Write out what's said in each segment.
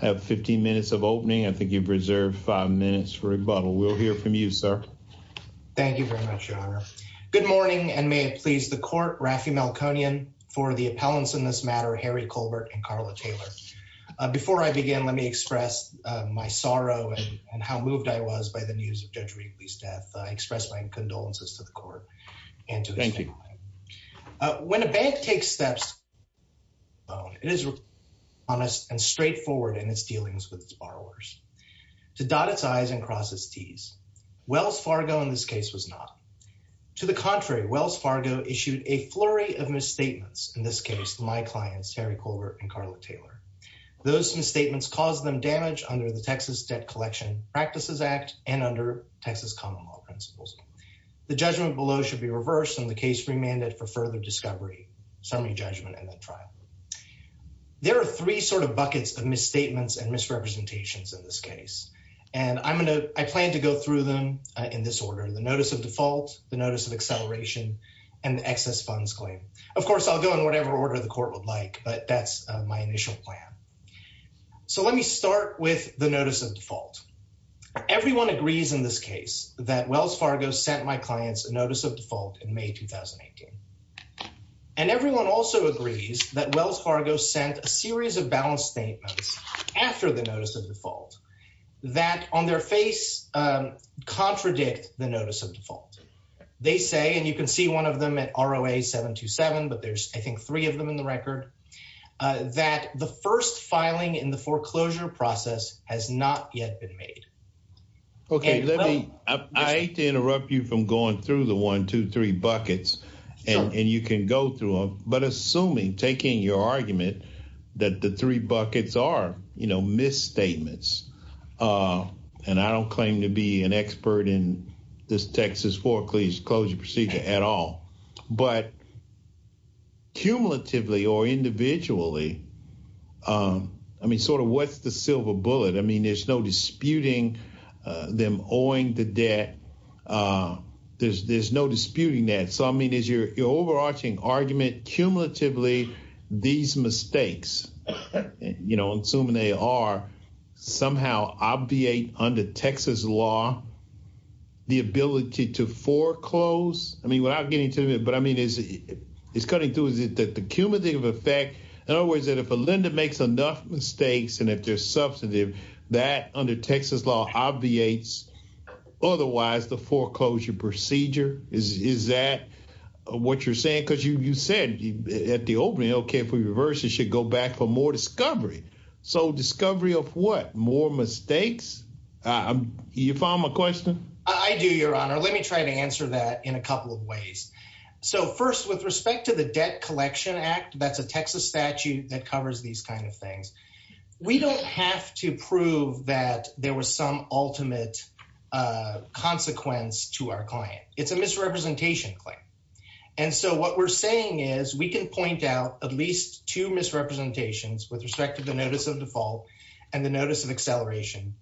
I have 15 minutes of opening. I think you've reserved five minutes for rebuttal. We'll hear from you, sir. Thank you very much, your honor. Good morning, and may it please the court, Raffi Malconian, for the appellants in this matter, Harry Colbert and Carla Taylor. Before I begin, let me express my sorrow and how moved I was by the news of Judge Wheatley's death. I express my condolences to the court. Thank you. When a bank takes steps, it is honest and straightforward in its dealings with its borrowers. To dot its I's and cross its T's, Wells Fargo in this case was not. To the contrary, Wells Fargo issued a flurry of misstatements in this case to my clients, Harry Colbert and Carla Taylor. Those misstatements caused them damage under the Texas Debt Collection Practices Act and under Texas common law principles. The judgment below should be reversed and the case remanded for further discovery, summary judgment, and then trial. There are three sort of buckets of misstatements and misrepresentations in this case, and I plan to go through them in this order, the notice of default, the notice of acceleration, and the excess funds claim. Of course, I'll go in whatever order the court would like, but that's my initial plan. So let me start with the notice of default. Everyone agrees in this case that Wells Fargo sent my clients a notice of default in May 2018, and everyone also agrees that Wells Fargo sent a series of balanced statements after the notice of default that on their face contradict the notice of default. They say, and you can see one of them at ROA 727, but there's I think three of them in the record, that the first filing in the foreclosure process has not yet been made. Okay, let me, I hate to interrupt you from going through the one, two, three buckets, and you can go through them, but assuming, taking your argument that the three buckets are, you know, misstatements, and I don't claim to be an expert in this Texas foreclosure procedure at all, but cumulatively or individually, I mean, sort of what's the silver bullet? I mean, there's no disputing them owing the debt, there's no disputing that. So, I mean, is your overarching argument cumulatively these mistakes, you know, assuming they are, somehow obviate under Texas law the ability to foreclose? I mean, without getting into it, but I mean, is it, it's cutting through, is it that the cumulative effect, in other words, that if a lender makes enough mistakes, and if they're substantive, that under Texas law obviates, otherwise, the foreclosure procedure? Is that what you're saying? Because you said at the opening, okay, if we reverse it, it should go back for more discovery. So, discovery of what? More mistakes? You follow my question? I do, your honor. Let me try to answer that in a couple of ways. So, first, with respect to the Debt Collection Act, that's a have to prove that there was some ultimate consequence to our client. It's a misrepresentation claim. And so, what we're saying is, we can point out at least two misrepresentations with respect to the notice of default and the notice of acceleration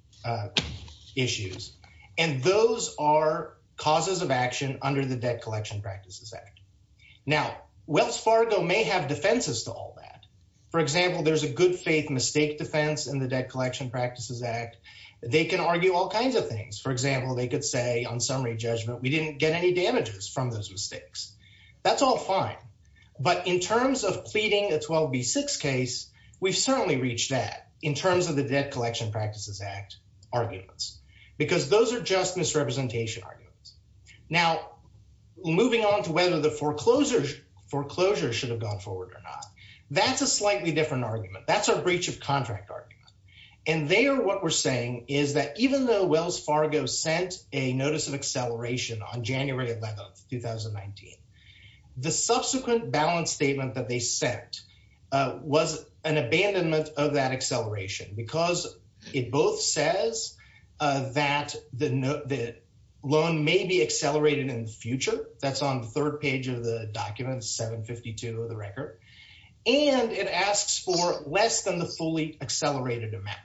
issues. And those are causes of action under the Debt Collection Practices Act. Now, Wells Fargo may have defenses to all that. For example, there's a good faith mistake defense in the Debt Collection Practices Act. They can argue all kinds of things. For example, they could say, on summary judgment, we didn't get any damages from those mistakes. That's all fine. But in terms of pleading a 12B6 case, we've certainly reached that, in terms of the Debt Collection Practices Act arguments. Because those are just misrepresentation arguments. Now, moving on to whether the foreclosures should have gone forward or not. That's a slightly different argument. That's our breach of contract argument. And there, what we're saying is that even though Wells Fargo sent a notice of acceleration on January 11th, 2019, the subsequent balance statement that they sent was an abandonment of that acceleration. Because it both says that the loan may be accelerated in the future. That's on the third page of the document, 752 of the record. And it asks for less than the fully accelerated amount.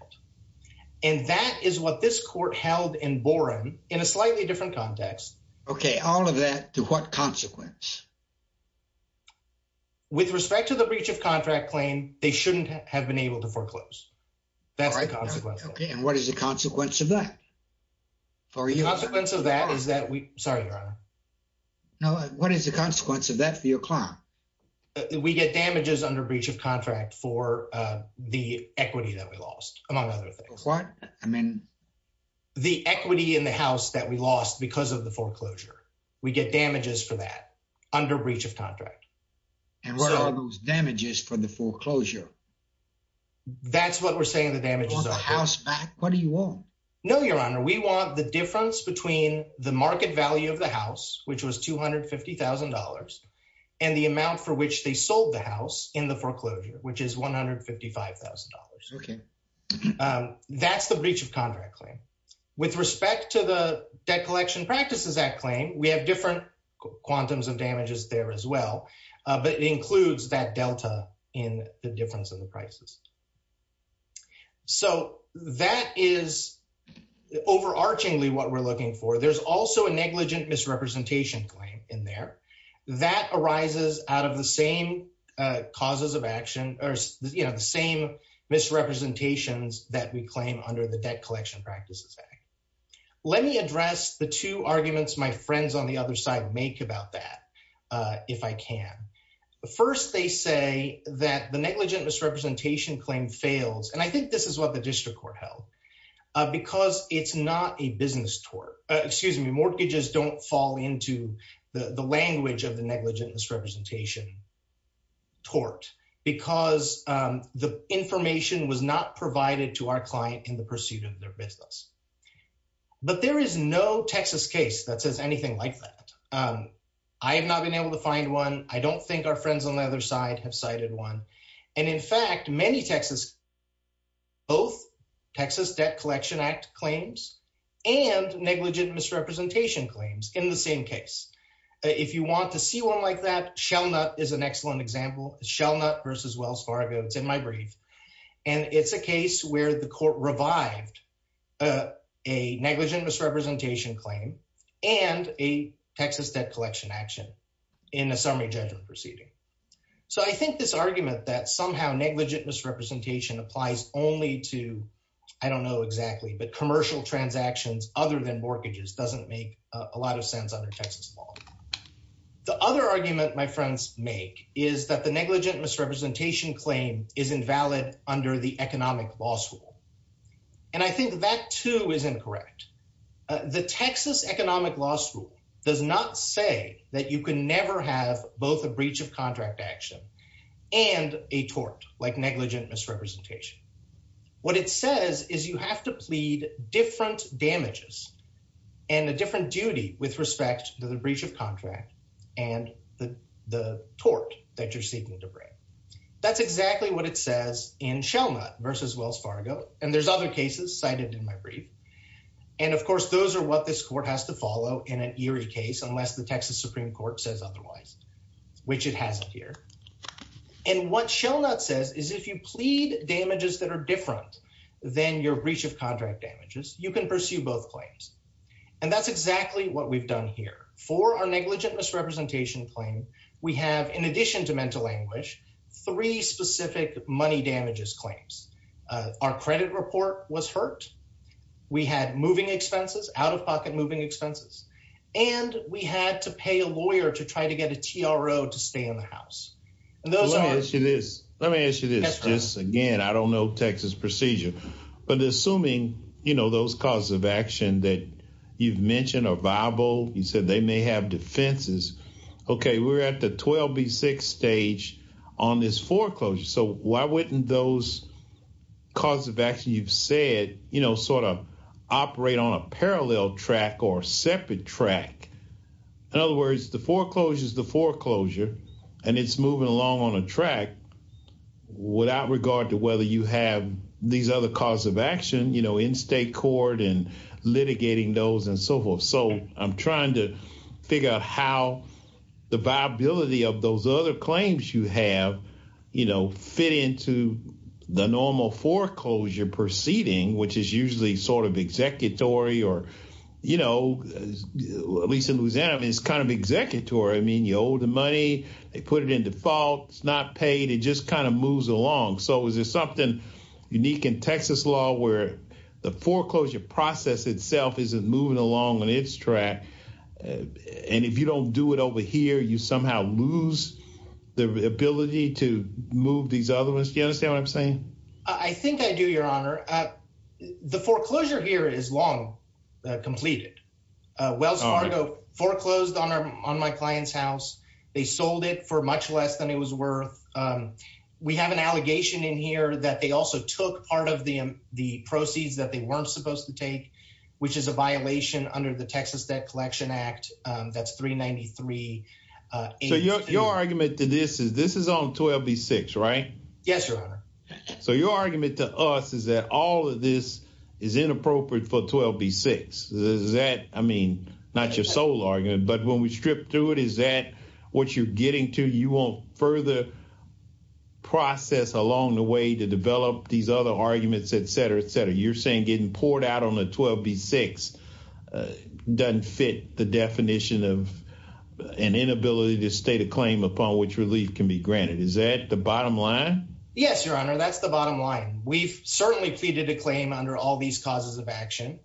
And that is what this court held in Boren, in a slightly different context. Okay. All of that, to what consequence? With respect to the breach of contract claim, they shouldn't have been able to foreclose. That's the consequence. Okay. And what is the consequence of that? The consequence of that is that we... Sorry, Your Honor. No, what is the consequence of that for your client? We get damages under breach of contract for the equity that we lost, among other things. What? I mean... The equity in the house that we lost because of the foreclosure. We get damages for that under breach of contract. And what are those damages for the foreclosure? That's what we're saying the damages are. You want the house back? What do you want? No, Your Honor. We want the difference between the market value of the house, which was $250,000, and the amount for which they sold the house in the foreclosure, which is $155,000. That's the breach of contract claim. With respect to the Debt Collection Practices Act claim, we have different quantums of damages there as well. But it includes that delta in the difference in the prices. So that is overarchingly what we're looking for. There's also a negligent misrepresentation claim in there. That arises out of the same causes of action, or the same misrepresentations that we claim under the Debt Collection Practices Act. Let me address the two arguments my friends on the other side make about that, if I can. First, they say that the negligent misrepresentation claim fails, and I think this is what the district court held, because it's not a business tort. Excuse me, mortgages don't fall into the language of the negligent misrepresentation tort, because the information was not provided to our client in the pursuit of their business. But there is no Texas case that says anything like that. I have not been able to find one. I don't think our friends on the other side have cited one. And in fact, many Texas, both Texas Debt Collection Act claims, and negligent misrepresentation claims in the same case. If you want to see one like that, Shellnut is an excellent example, Shellnut versus Wells Fargo, it's in my brief. And it's a case where the court revived a negligent misrepresentation claim, and a Texas Debt Collection action in a summary judgment proceeding. So I think this argument that somehow negligent misrepresentation applies only to, I don't know exactly, but commercial transactions other than mortgages doesn't make a lot of sense under Texas law. The other argument my friends make is that the negligent misrepresentation claim is invalid under the economic law school. And I think that too is incorrect. The Texas economic law school does not say that you can never have both a breach of contract action and a tort like negligent misrepresentation. What it says is you have to plead different damages and a different duty with respect to the breach of contract and the tort that you're seeking to break. That's exactly what it says in Shellnut versus Wells Fargo. And there's other cases cited in my brief. And of course, those are what this court has to follow in an eerie case unless the Texas Supreme Court says otherwise, which it hasn't here. And what Shellnut says is if you plead damages that are different than your breach of contract damages, you can pursue both claims. And that's exactly what we've done here. For our negligent misrepresentation claim, we have, in addition to mental anguish, three specific money damages claims. Our credit report was hurt. We had moving expenses, out-of-pocket moving expenses. And we had to pay a lawyer to try to get a TRO to stay in the house. Let me ask you this, just again, I don't know Texas procedure, but assuming those causes of action that you've mentioned are viable, you said they may have defenses. OK, we're at the 12B6 stage on this foreclosure. So why wouldn't those cause of action you've said sort of operate on a parallel track or separate track? In other words, the foreclosure is the foreclosure, and it's moving along on a track without regard to whether you have these other cause of action in state court and the viability of those other claims you have fit into the normal foreclosure proceeding, which is usually sort of executory, or at least in Louisiana, it's kind of executory. I mean, you owe the money. They put it in default. It's not paid. It just kind of moves along. So is there something unique in Texas law where the foreclosure process itself isn't moving along on its track, and if you don't do it over here, you somehow lose the ability to move these other ones? Do you understand what I'm saying? I think I do, Your Honor. The foreclosure here is long completed. Wells Fargo foreclosed on my client's house. They sold it for much less than it was worth. We have an allegation in here that they also took part of the proceeds that they weren't supposed to take, which is a violation under the Texas Debt Collection Act. That's 393. So your argument to this is this is on 12B6, right? Yes, Your Honor. So your argument to us is that all of this is inappropriate for 12B6. Is that, I mean, not your sole argument, but when we strip through it, is that what you're getting to? You won't further process along the way to develop these other arguments, et cetera, et cetera. You're saying getting poured out on a 12B6 doesn't fit the definition of an inability to state a claim upon which relief can be granted. Is that the bottom line? Yes, Your Honor. That's the bottom line. We've certainly pleaded a claim under all these causes of action.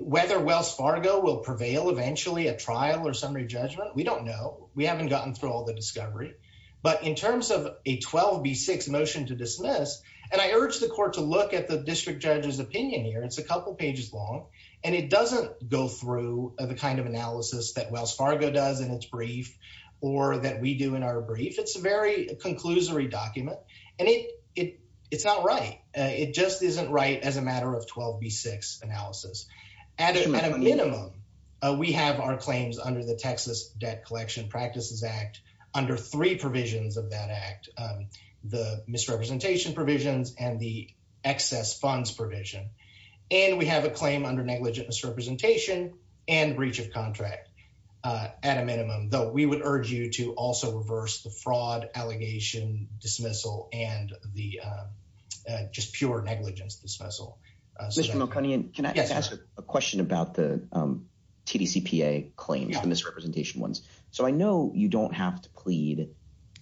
Whether Wells Fargo will prevail eventually at trial or summary judgment, we don't know. We haven't gotten through all the discovery. But in terms of a 12B6 motion to opinion here, it's a couple of pages long, and it doesn't go through the kind of analysis that Wells Fargo does in its brief or that we do in our brief. It's a very conclusory document, and it's not right. It just isn't right as a matter of 12B6 analysis. At a minimum, we have our claims under the Texas Debt Collection Practices Act under three provisions of that act, the misrepresentation provisions and the excess funds provision. And we have a claim under negligent misrepresentation and breach of contract at a minimum, though we would urge you to also reverse the fraud, allegation, dismissal, and the just pure negligence dismissal. Mr. Mulconey, can I ask a question about the TDCPA claims, the misrepresentation ones? I know you don't have to plead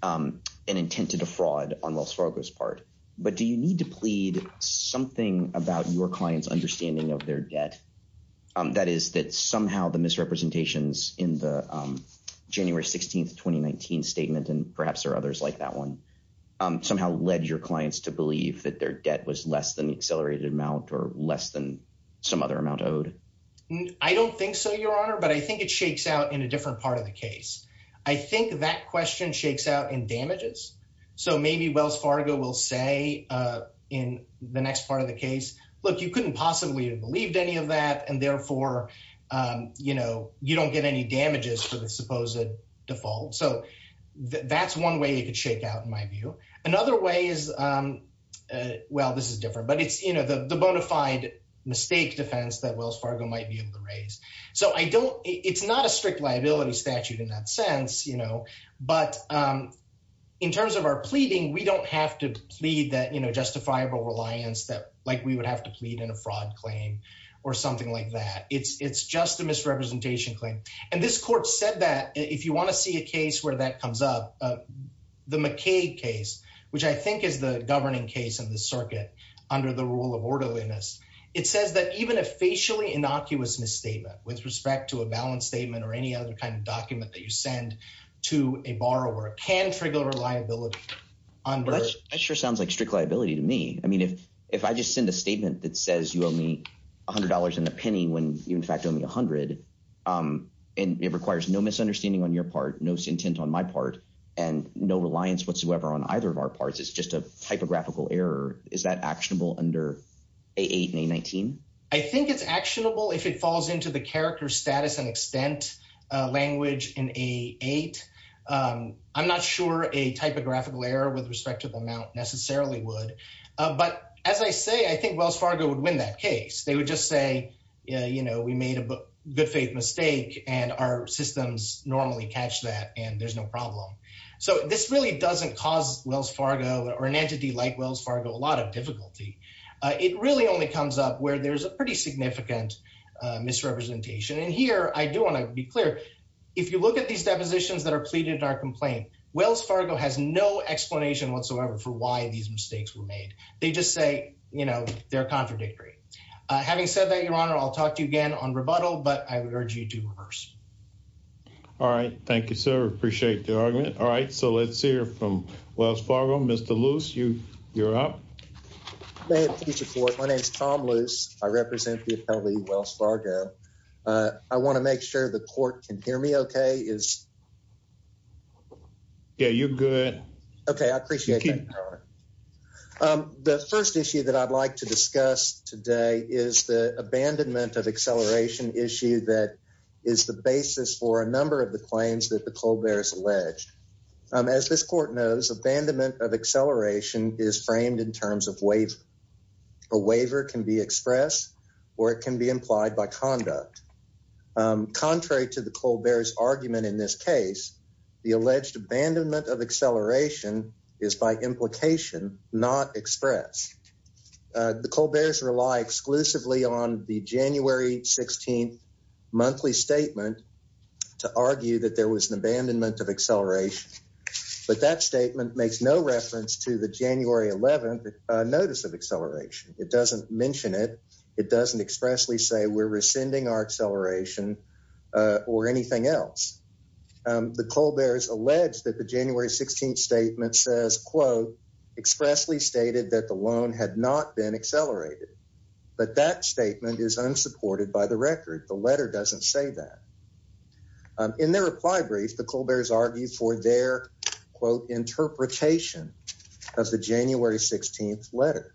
an intent to defraud on Wells Fargo's part, but do you need to plead something about your client's understanding of their debt? That is, that somehow the misrepresentations in the January 16th, 2019 statement, and perhaps there are others like that one, somehow led your clients to believe that their debt was less than the accelerated amount or less than some other amount owed? I don't think so, Your Honor, but I think it that question shakes out in damages. So maybe Wells Fargo will say in the next part of the case, look, you couldn't possibly have believed any of that and therefore, you know, you don't get any damages for the supposed default. So that's one way you could shake out in my view. Another way is, well, this is different, but it's, you know, the bona fide mistake defense that Wells Fargo might be able to raise. So I don't, it's not a strict liability statute in that sense, you know, but in terms of our pleading, we don't have to plead that, you know, justifiable reliance that like we would have to plead in a fraud claim or something like that. It's just a misrepresentation claim. And this court said that if you want to see a case where that comes up, the McCaig case, which I think is the governing case in the circuit under the rule of orderliness, it says that even a facially innocuous misstatement with respect to a balance statement or any other kind of document that you send to a borrower can trigger liability under. That sure sounds like strict liability to me. I mean, if, if I just send a statement that says you owe me a hundred dollars and a penny, when you in fact owe me a hundred and it requires no misunderstanding on your part, no intent on my part and no reliance whatsoever on either of our parts, it's just a typographical error. Is that actionable under A8 and A19? I think it's actionable if it falls into the character status and extent language in A8. I'm not sure a typographical error with respect to the amount necessarily would, but as I say, I think Wells Fargo would win that case. They would just say, you know, we made a good faith mistake and our systems normally catch that and there's no problem. So this really doesn't cause or an entity like Wells Fargo, a lot of difficulty. It really only comes up where there's a pretty significant misrepresentation. And here I do want to be clear. If you look at these depositions that are pleaded in our complaint, Wells Fargo has no explanation whatsoever for why these mistakes were made. They just say, you know, they're contradictory. Having said that, your honor, I'll talk to you again on rebuttal, but I would urge you to reverse. All right. Thank you, sir. Appreciate the argument. All right. So let's hear from Wells Fargo. Mr. Luce, you're up. My name is Tom Luce. I represent the attorney Wells Fargo. I want to make sure the court can hear me okay. Yeah, you're good. Okay. I appreciate it. The first issue that I'd like to discuss today is the abandonment of acceleration issue that is the basis for a number of the claims that the Colbert is alleged. As this court knows, abandonment of acceleration is framed in terms of waiver. A waiver can be expressed or it can be implied by conduct. Contrary to the Colbert's argument in this case, the alleged abandonment of acceleration is by implication not expressed. The Colbert's rely exclusively on the January 16th monthly statement to argue that there was an abandonment of acceleration, but that statement makes no reference to the January 11th notice of acceleration. It doesn't mention it. It doesn't expressly say we're rescinding our acceleration or anything else. The Colbert's alleged that the January 16th statement says, quote, expressly stated that the loan had not been accelerated, but that statement is unsupported by the record. The letter doesn't say that. In their reply brief, the Colbert's argued for their, quote, interpretation of the January 16th letter.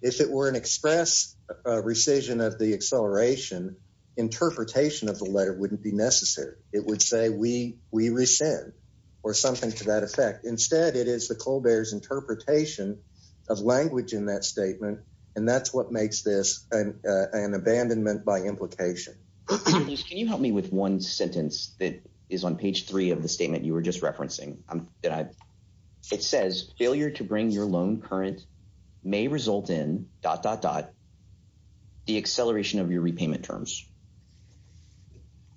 If it were an express rescission of the acceleration, interpretation of the letter wouldn't be necessary. It would say we rescind or something to that effect. Instead, it is the interpretation of language in that statement, and that's what makes this an abandonment by implication. Can you help me with one sentence that is on page three of the statement you were just referencing? It says failure to bring your loan current may result in the acceleration of your repayment terms.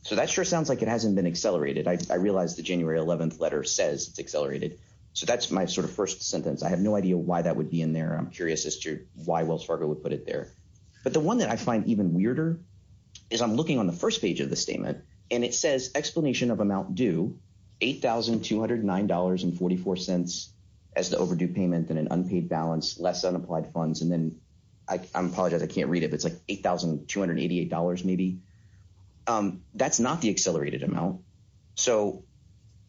So that sure sounds like it hasn't been accelerated. I realize the January 11th letter says it's accelerated. So that's my sort of first sentence. I have no idea why that would be in there. I'm curious as to why Wells Fargo would put it there. But the one that I find even weirder is I'm looking on the first page of the statement, and it says explanation of amount due, $8,209.44 as the overdue payment and an unpaid balance, less than applied funds, and then I apologize, I can't read it, but it's like $8,288 maybe. That's not the accelerated amount. So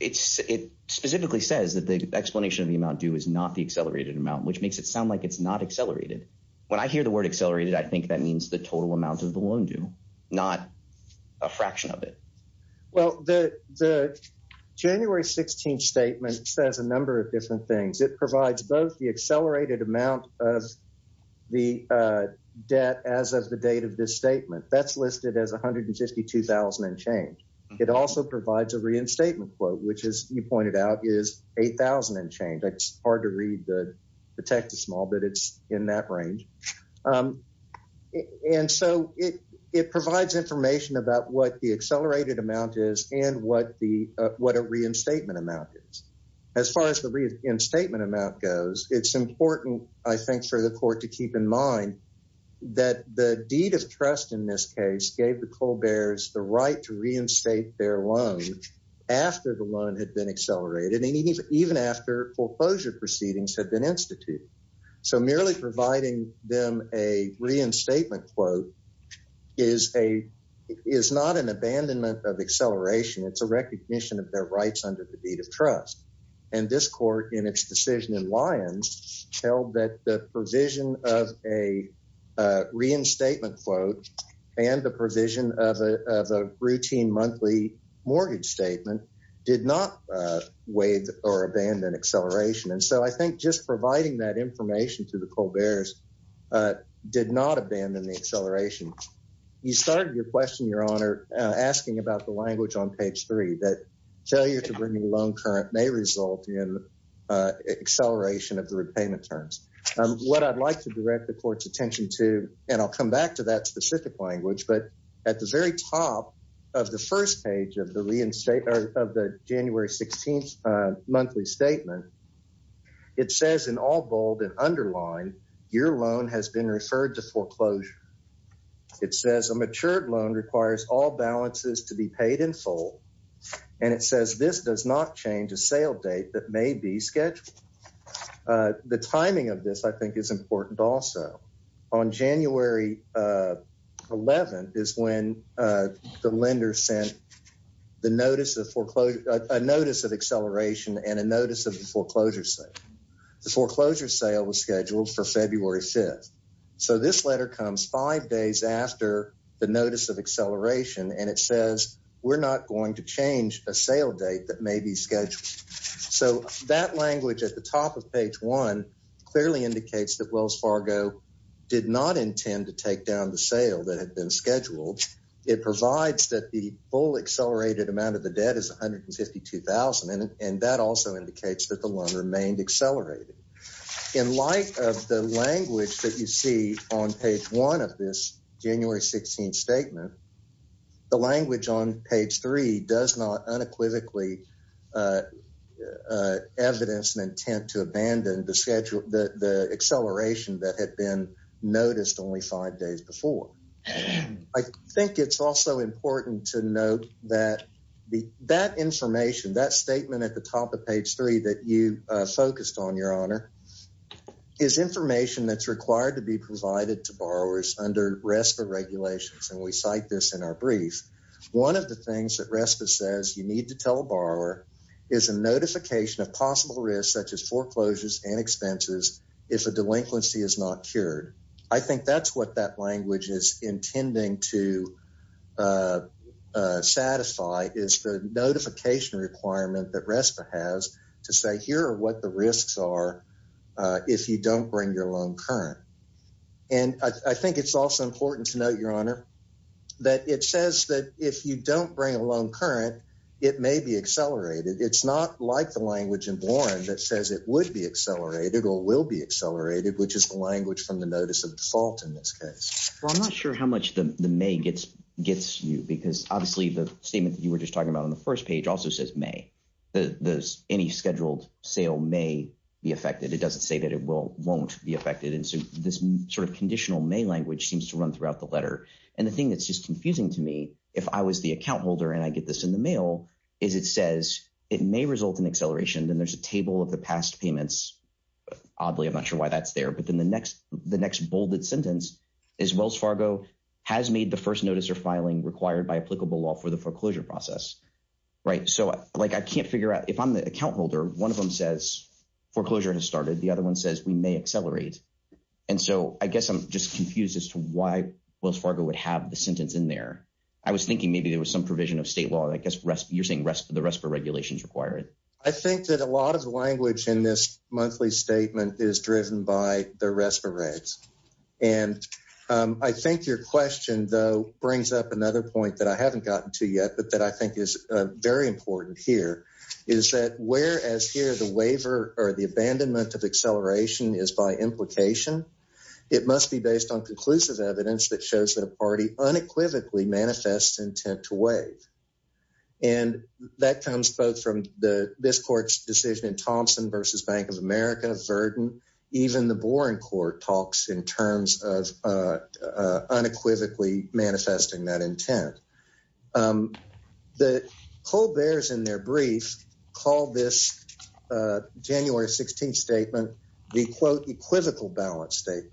it specifically says that the explanation of the amount due is not the accelerated amount, which makes it sound like it's not accelerated. When I hear the word accelerated, I think that means the total amount of the loan due, not a fraction of it. Well, the January 16th statement says a number of different things. It provides both the accelerated amount of the debt as of the date of this statement. That's listed as $152,000 and change. It also provides a reinstatement quote, which as you pointed out is $8,000 and change. It's hard to read the text is small, but it's in that range. And so it provides information about what the accelerated amount is and what a reinstatement amount is. As far as the reinstatement amount goes, it's important, I think, for the court to keep in mind that the deed of trust in this case gave the Colberts the right to reinstate their loan after the loan had been accelerated and even after foreclosure proceedings had been instituted. So merely providing them a reinstatement quote is not an abandonment of acceleration. It's a recognition of their rights under the deed of trust. The provisions of a reinstatement quote and the provision of a routine monthly mortgage statement did not waive or abandon acceleration. And so I think just providing that information to the Colberts did not abandon the acceleration. You started your question, Your Honor, asking about the language on page three that failure to bring a loan current may result in acceleration of the repayment terms. What I'd like to direct the court's attention to, and I'll come back to that specific language, but at the very top of the first page of the January 16th monthly statement, it says in all bold and underlined, your loan has been referred to foreclosure. It says a matured loan requires all balances to be paid in full. And it says this does not change a sale date that may be scheduled. The timing of this I think is important also. On January 11th is when the lender sent a notice of acceleration and a notice of the foreclosure sale. The foreclosure sale was scheduled for February 5th. So this letter comes five days after the notice of acceleration, and it says we're not going to change a sale date that may be scheduled. So that language at the top of page one clearly indicates that Wells Fargo did not intend to take down the sale that had been scheduled. It provides that the full accelerated amount of the debt is $152,000, and that also indicates that the loan remained accelerated. In light of the language that you see on page one of this January 16th statement, the language on page three does not unequivocally evidence an intent to abandon the schedule, the acceleration that had been noticed only five days before. I think it's also important to note that that information, that statement at the top of page three, is information that's required to be provided to borrowers under RESPA regulations, and we cite this in our brief. One of the things that RESPA says you need to tell a borrower is a notification of possible risks, such as foreclosures and expenses, if a delinquency is not cured. I think that's what that language is intending to if you don't bring your loan current. And I think it's also important to note, Your Honor, that it says that if you don't bring a loan current, it may be accelerated. It's not like the language in Warren that says it would be accelerated or will be accelerated, which is the language from the notice of default in this case. Well, I'm not sure how much the may gets gets you, because obviously the statement that you were just talking about on the first page also says may. Any scheduled sale may be affected. It doesn't say that it won't be affected. And so this sort of conditional may language seems to run throughout the letter. And the thing that's just confusing to me, if I was the account holder and I get this in the mail, is it says it may result in acceleration. Then there's a table of the past payments. Oddly, I'm not sure why that's there. But then the next bolded sentence is Wells Fargo has made the first notice or filing required by applicable law for the foreclosure process. Right. So like I can't figure out if I'm the account holder, one of them says foreclosure has started. The other one says we may accelerate. And so I guess I'm just confused as to why Wells Fargo would have the sentence in there. I was thinking maybe there was some provision of state law. I guess you're saying the RESPA regulations require it. I think that a lot of the language in this monthly statement is driven by the RESPA regs. And I think your question, though, brings up another point that I haven't gotten to yet, but that I think is very important here, is that whereas here the waiver or the abandonment of acceleration is by implication, it must be based on conclusive evidence that shows that a party unequivocally manifests intent to waive. And that comes both from this court's decision in Thompson v. Bank of America, Verdon, even the Boren court talks in terms of unequivocally manifesting that intent. The Colberts in their brief called this January 16th statement, the quote, equivocal balance statement.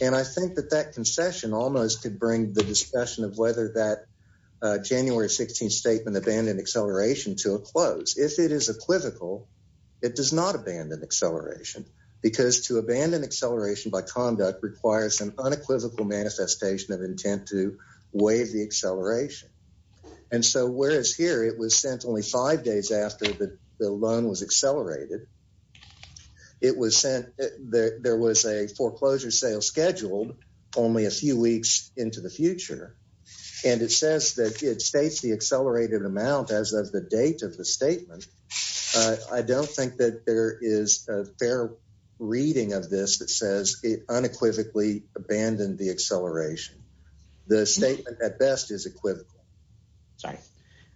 And I think that that concession almost could bring the discussion of whether that January 16th statement abandoned acceleration to a close. If it is equivocal, it does not abandon acceleration because to abandon acceleration by conduct requires an unequivocal manifestation of intent to waive the acceleration. And so whereas here it was sent only five days after the loan was accelerated, it was sent, there was a foreclosure sale scheduled only a few weeks into the future. And it says that it states the accelerated amount as of the date of the statement. I don't think that there is a fair reading of this that says it unequivocally abandoned the acceleration. The statement at best is equivocal. Sorry.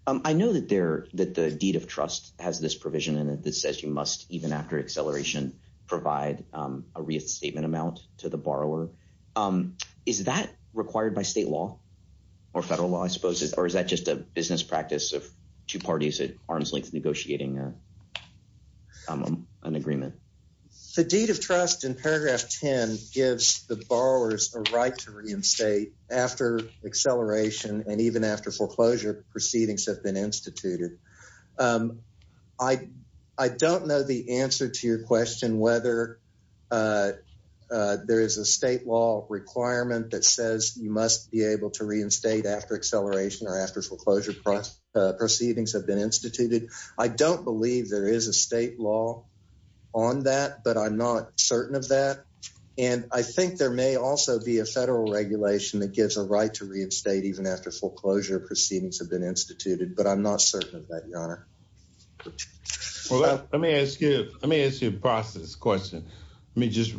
I know that the deed of trust has this provision in it that says you must, even after acceleration, provide a restatement amount to the borrower. Is that required by state or federal law, I suppose? Or is that just a business practice of two parties at arm's length negotiating an agreement? The deed of trust in paragraph 10 gives the borrowers a right to reinstate after acceleration and even after foreclosure proceedings have been instituted. I don't know the answer to your question whether there is a state law requirement that says you reinstate after acceleration or after foreclosure proceedings have been instituted. I don't believe there is a state law on that, but I'm not certain of that. And I think there may also be a federal regulation that gives a right to reinstate even after foreclosure proceedings have been instituted, but I'm not certain of that, Your Honor. Let me ask you a process question. Let me just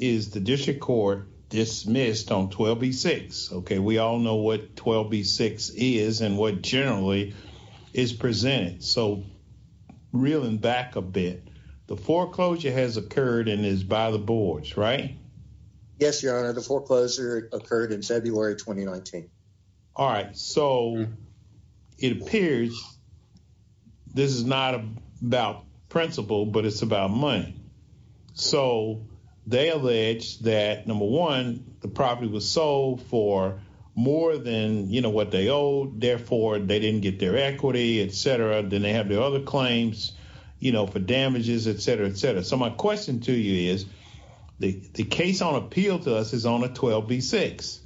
is the district court dismissed on 12b-6? Okay, we all know what 12b-6 is and what generally is presented. So, reeling back a bit, the foreclosure has occurred and is by the boards, right? Yes, Your Honor. The foreclosure occurred in February 2019. All right. So, it appears this is not about principle, but it's about money. So, they allege that, number one, the property was sold for more than, you know, what they owed. Therefore, they didn't get their equity, et cetera. Then they have the other claims, you know, for damages, et cetera, et cetera. So, my question to you is the case on appeal to us is on a 12b-6.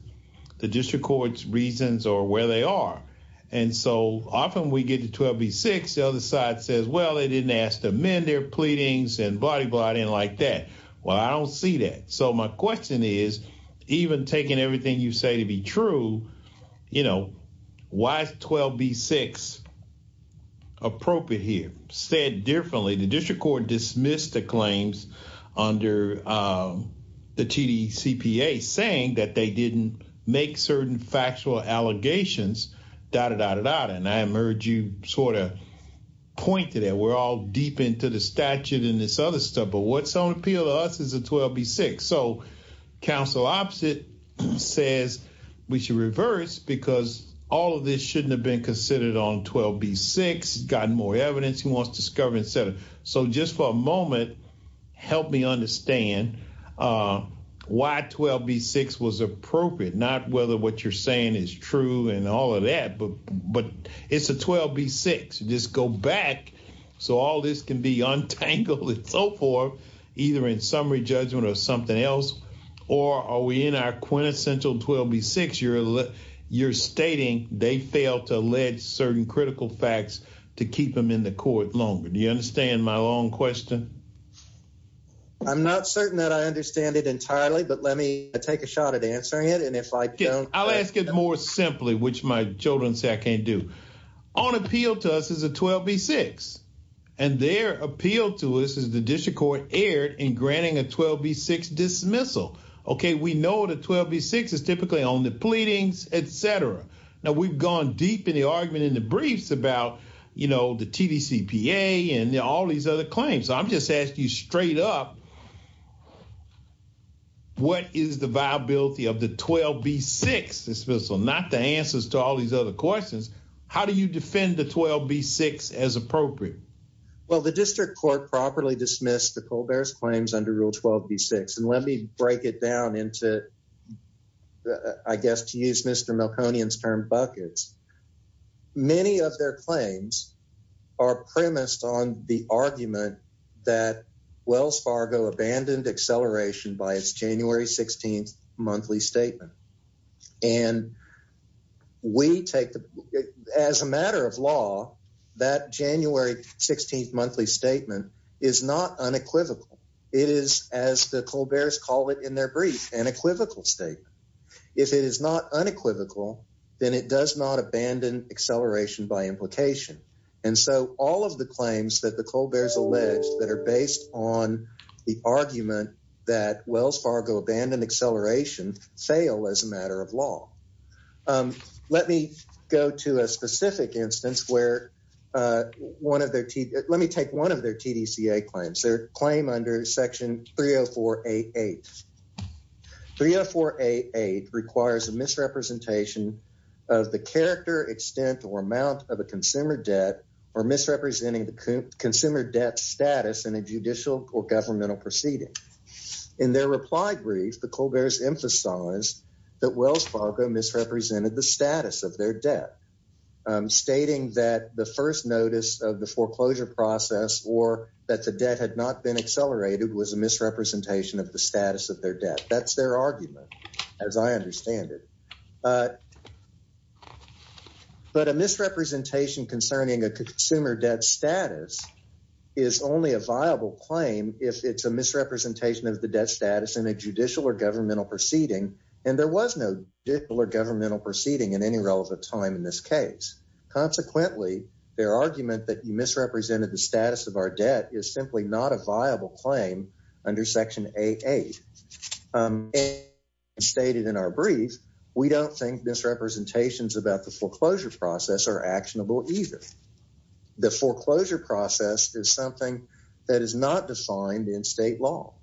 The district court's reasons or where they are. And so, often we get to 12b-6, the other side says, well, they didn't ask to amend their pleadings and blah, blah, blah. I didn't like that. Well, I don't see that. So, my question is, even taking everything you say to be true, you know, why is 12b-6 appropriate here? Said differently, the district court dismissed the claims under the TDCPA saying that they didn't make certain factual allegations, dah, dah, dah, dah, dah. And I heard you sort of point to that. We're all deep into the statute and this other stuff. But what's on appeal to us is a 12b-6. So, counsel opposite says we should reverse because all of this shouldn't have been considered on 12b-6, gotten more evidence he wants to discover, et cetera. So, just for a moment, help me understand why 12b-6 was appropriate, not whether what you're saying is true and all of that. But it's a 12b-6. Just go back. So, all this can be untangled and so forth, either in summary judgment or something else. Or are we in our quintessential 12b-6? You're stating they failed to allege certain critical facts to keep them in the court longer. Do you understand my long question? I'm not certain that I understand it entirely, but let me take a shot at answering it. I'll ask it more simply, which my children say I can't do. On appeal to us is a 12b-6. And their appeal to us is the district court erred in granting a 12b-6 dismissal. Okay, we know the 12b-6 is typically on the pleadings, et cetera. Now, we've gone deep in the argument in briefs about the TDCPA and all these other claims. I'm just asking you straight up, what is the viability of the 12b-6 dismissal, not the answers to all these other questions. How do you defend the 12b-6 as appropriate? Well, the district court properly dismissed the Colbert's claims under Rule 12b-6. And let me break it down into, I guess, to use Mr. Milconian's term, buckets. Many of their claims are premised on the argument that Wells Fargo abandoned acceleration by its January 16th monthly statement. And we take, as a matter of law, that January 16th monthly statement is not unequivocal. It is, as the Colbert's call it in their brief, an equivocal statement. If it is not unequivocal, then it does not abandon acceleration by implication. And so all of the claims that the Colbert's alleged that are based on the argument that Wells Fargo abandoned acceleration fail as a matter of law. Let me go to a specific instance where one of their, let me take one of their TDCA claims, their claim under Section 304-88. 304-88 requires a misrepresentation of the character, extent, or amount of a consumer debt or misrepresenting the consumer debt status in a judicial or governmental proceeding. In their reply brief, the Colbert's emphasized that Wells Fargo misrepresented the status of foreclosure process or that the debt had not been accelerated was a misrepresentation of the status of their debt. That's their argument, as I understand it. But a misrepresentation concerning a consumer debt status is only a viable claim if it's a misrepresentation of the debt status in a judicial or governmental proceeding. And there was no judicial or governmental proceeding in any relevant time in this case. Consequently, their argument that misrepresented the status of our debt is simply not a viable claim under Section 88. Stated in our brief, we don't think misrepresentations about the foreclosure process are actionable either. The foreclosure process is something that is not defined in state law.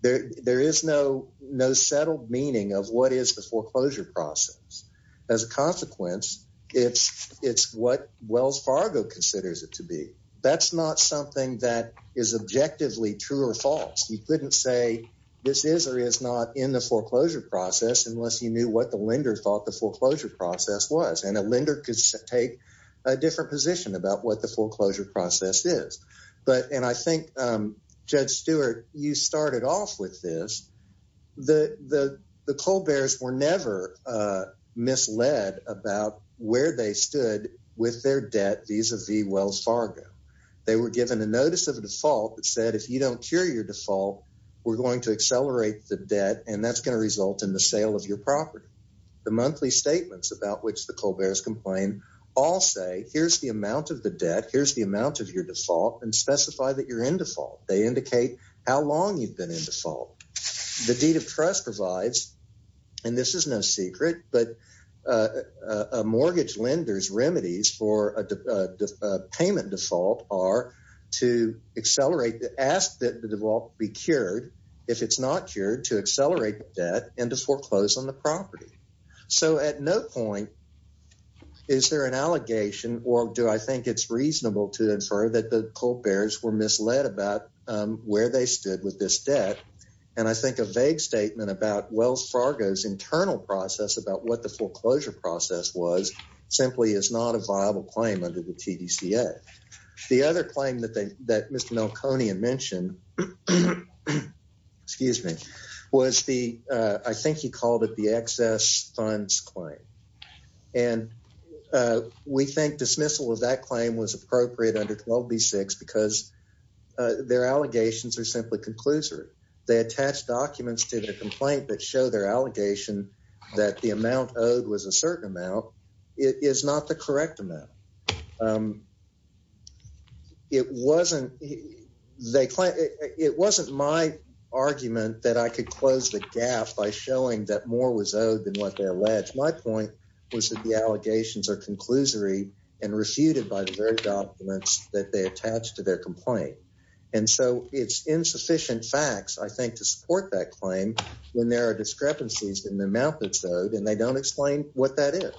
There is no settled meaning of what is the foreclosure process. As a consequence, it's what Wells Fargo considers it to be. That's not something that is objectively true or false. You couldn't say this is or is not in the foreclosure process unless you knew what the lender thought the foreclosure process was. And a lender could take a different position about what the foreclosure process is. But, and I think, Judge Stewart, you started off with this. The Colberts were never misled about where they stood with their debt vis-a-vis Wells Fargo. They were given a notice of a default that said, if you don't cure your default, we're going to accelerate the debt and that's going to result in the sale of your property. The monthly statements about which the Colberts complain all say, here's the amount of the debt, here's the amount of your default, and specify that you're in default. They indicate how long you've been in default. The deed of trust provides, and this is no secret, but a mortgage lender's remedies for a payment default are to accelerate, to ask that the default be cured. If it's not cured, to accelerate the debt and to foreclose on the property. So at no point is there an allegation or do I think it's reasonable to infer that the Colberts were misled about where they stood with this debt. And I think a vague statement about Wells Fargo's internal process about what the foreclosure process was simply is not a viable claim under the TDCA. The other claim that they, that Mr. Melconian mentioned, excuse me, was the, I think he called it the excess funds claim. And we think dismissal of that claim was appropriate under 12B6 because their allegations are simply conclusory. They attach documents to their complaint that show their allegation that the amount owed was a certain amount. It is not the correct amount. It wasn't, they claim, it wasn't my argument that I could close the gap by showing that more was owed than what they alleged. My point was that the allegations are conclusory and refuted by the documents that they attach to their complaint. And so it's insufficient facts, I think, to support that claim when there are discrepancies in the amount that's owed and they don't explain what that is.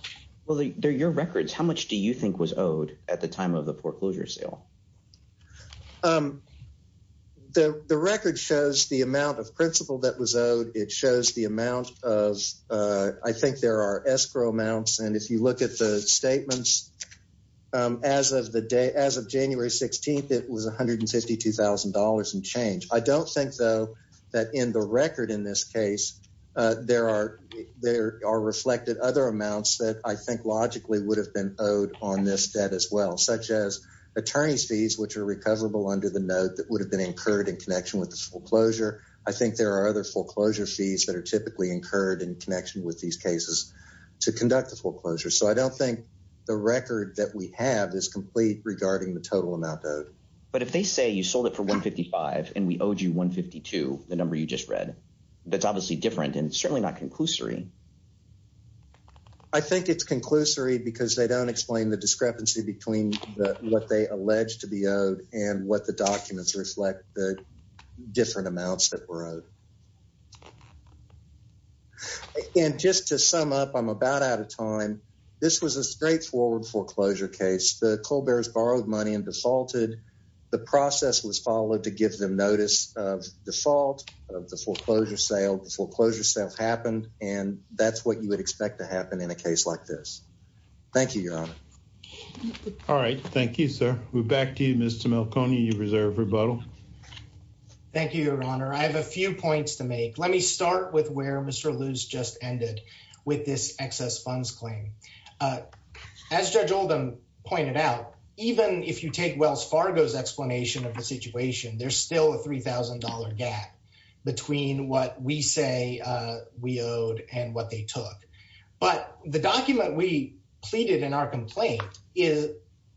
Well, they're your records. How much do you think was owed at the time of the foreclosure sale? The record shows the amount of principal that was owed. It shows the amount of, I think there are escrow amounts. And if you look at the statements, as of the day, as of January 16th, it was $152,000 and change. I don't think though, that in the record in this case, there are reflected other amounts that I think logically would have been owed on this debt as well, such as attorney's fees, which are recoverable under the note that would have been incurred in connection with the foreclosure. I think there are other foreclosure fees that are typically incurred in connection with these cases to conduct the foreclosure. So I don't think the record that we have is complete regarding the total amount owed. But if they say you sold it for $155,000 and we owed you $152,000, the number you just read, that's obviously different and certainly not conclusory. I think it's conclusory because they don't explain the discrepancy between what they allege to be owed and what the documents reflect the different amounts that were owed. And just to sum up, I'm about out of time. This was a straightforward foreclosure case. The Colbert's borrowed money and defaulted. The process was followed to give them notice of default of the foreclosure sale. The foreclosure sale happened and that's what you would expect to happen in a case like this. Thank you, Your Honor. All right. Thank you, sir. We're back to you, Mr. Melconi. You reserve rebuttal. Thank you, Your Honor. I have a few points to make. Let me start with where Mr. Luce just ended with this excess funds claim. As Judge Oldham pointed out, even if you take Wells Fargo's explanation of the situation, there's still a $3,000 gap between what we say we owed and what they took. But the document we pleaded in our complaint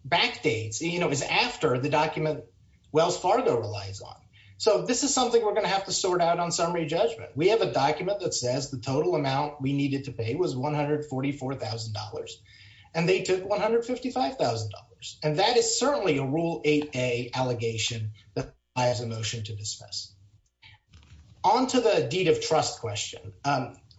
backdates, is after the document Wells Fargo relies on. So this is something we're going to have to sort out on summary judgment. We have a document that says the total amount we needed to pay was $144,000. And they took $155,000. And that is certainly a Rule 8A allegation that I have a motion to dismiss. On to the deed of trust question.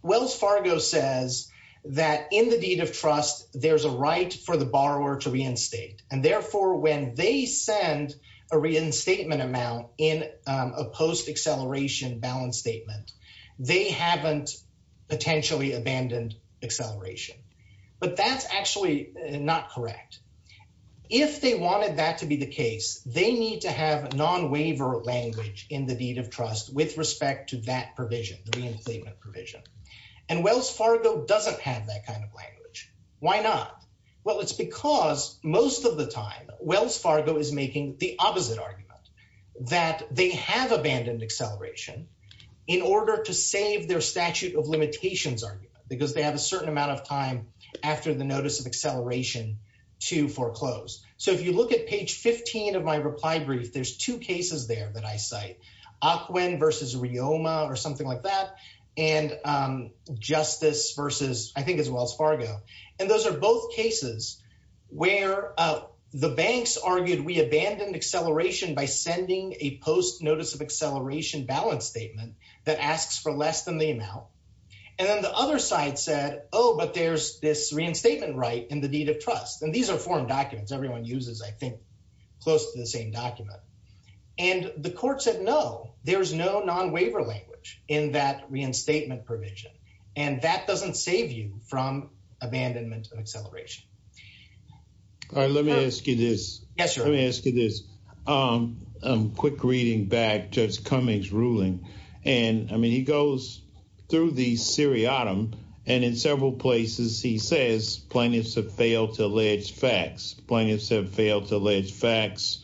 Wells Fargo says that in the deed of trust, there's a right for the borrower to reinstate. And therefore, when they send a reinstatement amount in a post-acceleration balance statement, they haven't potentially abandoned acceleration. But that's actually not correct. If they wanted that to be the case, they need to have non-waiver language in the deed of trust with respect to that provision, the reinstatement provision. And Wells Fargo doesn't have that kind of language. Why not? Well, it's because most of the time, Wells Fargo is making the opposite argument, that they have abandoned acceleration in order to save their statute of limitations argument, because they have a certain amount of time after the notice of acceleration to foreclose. So if you look at page 15 of my reply brief, there's two cases there that I cite, Ocwen versus Rioma or something like that. And Justice versus, I think it's Wells Fargo. And those are both cases where the banks argued we abandoned acceleration by sending a post-notice of acceleration balance statement that asks for less than the amount. And then the other side said, oh, but there's this reinstatement right in the deed of trust. And these are foreign documents. Everyone uses, I think, close to the same document. And the court said, no, there's no non-waiver language in that reinstatement provision. And that doesn't save you from abandonment of acceleration. All right. Let me ask you this. Yes, sir. Let me ask you this. Quick reading back, Judge Cummings ruling. And I mean, he goes through the seriatim. And in several places, he says plaintiffs have failed to allege facts. Plaintiffs have failed to allege facts.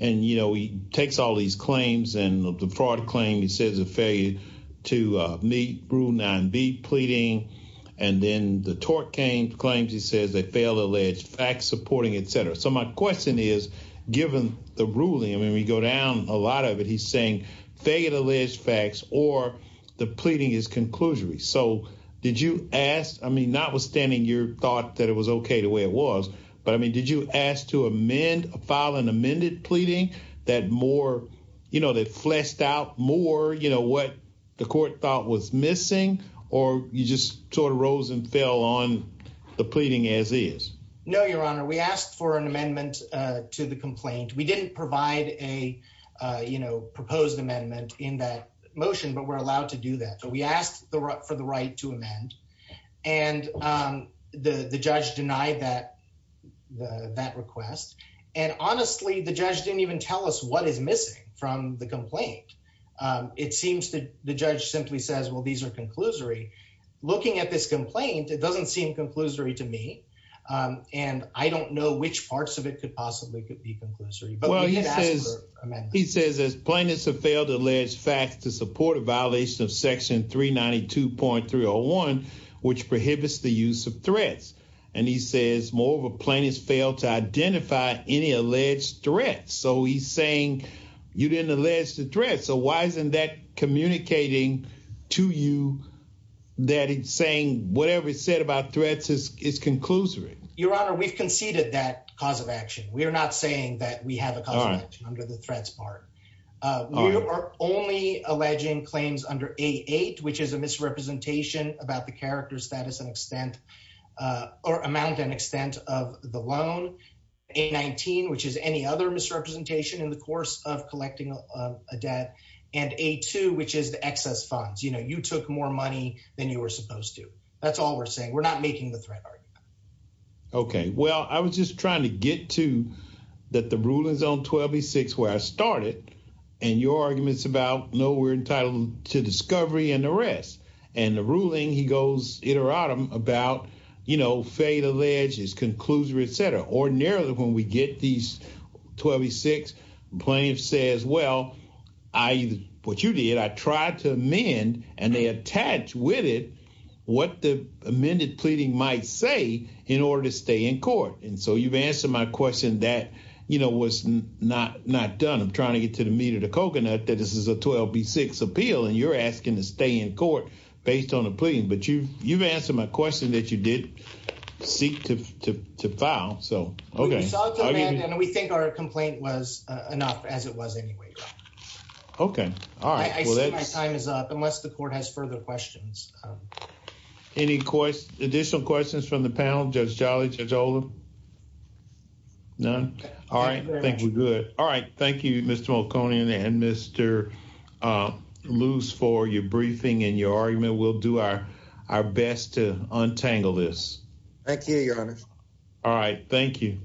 And, you know, he takes all these claims and the fraud claim, he says, a failure to meet rule 9B pleading. And then the tort claims, he says, they fail to allege facts supporting, et cetera. So my question is, given the ruling, I mean, we go down a lot of it. He's saying fail to allege facts or the pleading is conclusory. So did you ask, I mean, notwithstanding your thought that it was OK the way it was, but I mean, did you ask to amend, file an amended pleading that more, you know, that fleshed out more, you know, what the court thought was missing or you just sort of rose and fell on the pleading as is? No, Your Honor. We asked for an amendment to the complaint. We didn't provide a, you know, proposed amendment in that motion, but we're allowed to do that. So we asked for the right to amend. And the judge denied that request. And honestly, the judge didn't even tell us what is missing from the complaint. It seems that the judge simply says, well, these are conclusory. Looking at this complaint, it doesn't seem conclusory to me. And I don't know which parts of it could possibly could be conclusory. But we did ask for amendments. He says his plaintiffs have failed to allege facts to support a violation of Section 392.301, which prohibits the use of threats. And he says more of a plaintiff's failed to identify any alleged threats. So he's saying you didn't allege the threat. So why isn't that communicating to you that he's saying whatever he said about threats is conclusory? Your Honor, we've conceded that cause of action. We are not saying that we have a cause of action under the threats part. We are only alleging claims under A8, which is a misrepresentation about the character, status, and extent or amount and extent of the loan. A19, which is any other misrepresentation in the course of collecting a debt. And A2, which is the excess funds. You know, you took more money than you were supposed to. That's all we're saying. We're not making the threat argument. Okay. Well, I was just trying to get to that the rulings on 1286 where I started and your arguments about, no, we're entitled to discovery and arrest. And the ruling, he goes iteratum about, you know, fail to allege is conclusory, et cetera. Ordinarily when we get these 1286, plaintiff says, well, I, what you did, I tried to amend and they attach with it what the amended pleading might say in order to stay in you know, what's not, not done. I'm trying to get to the meat of the coconut that this is a 1286 appeal and you're asking to stay in court based on a plea. But you've, you've answered my question that you did seek to, to, to file. So, okay. And we think our complaint was enough as it was anyway. Okay. All right. I see my time is up unless the court has further questions. Any questions, additional questions from the panel, Judge Jolly, Judge Oldham? None. All right. I think we're good. All right. Thank you, Mr. Malkonian and Mr. Luce for your briefing and your argument. We'll do our, our best to untangle this. Thank you, your honor. All right. Thank you.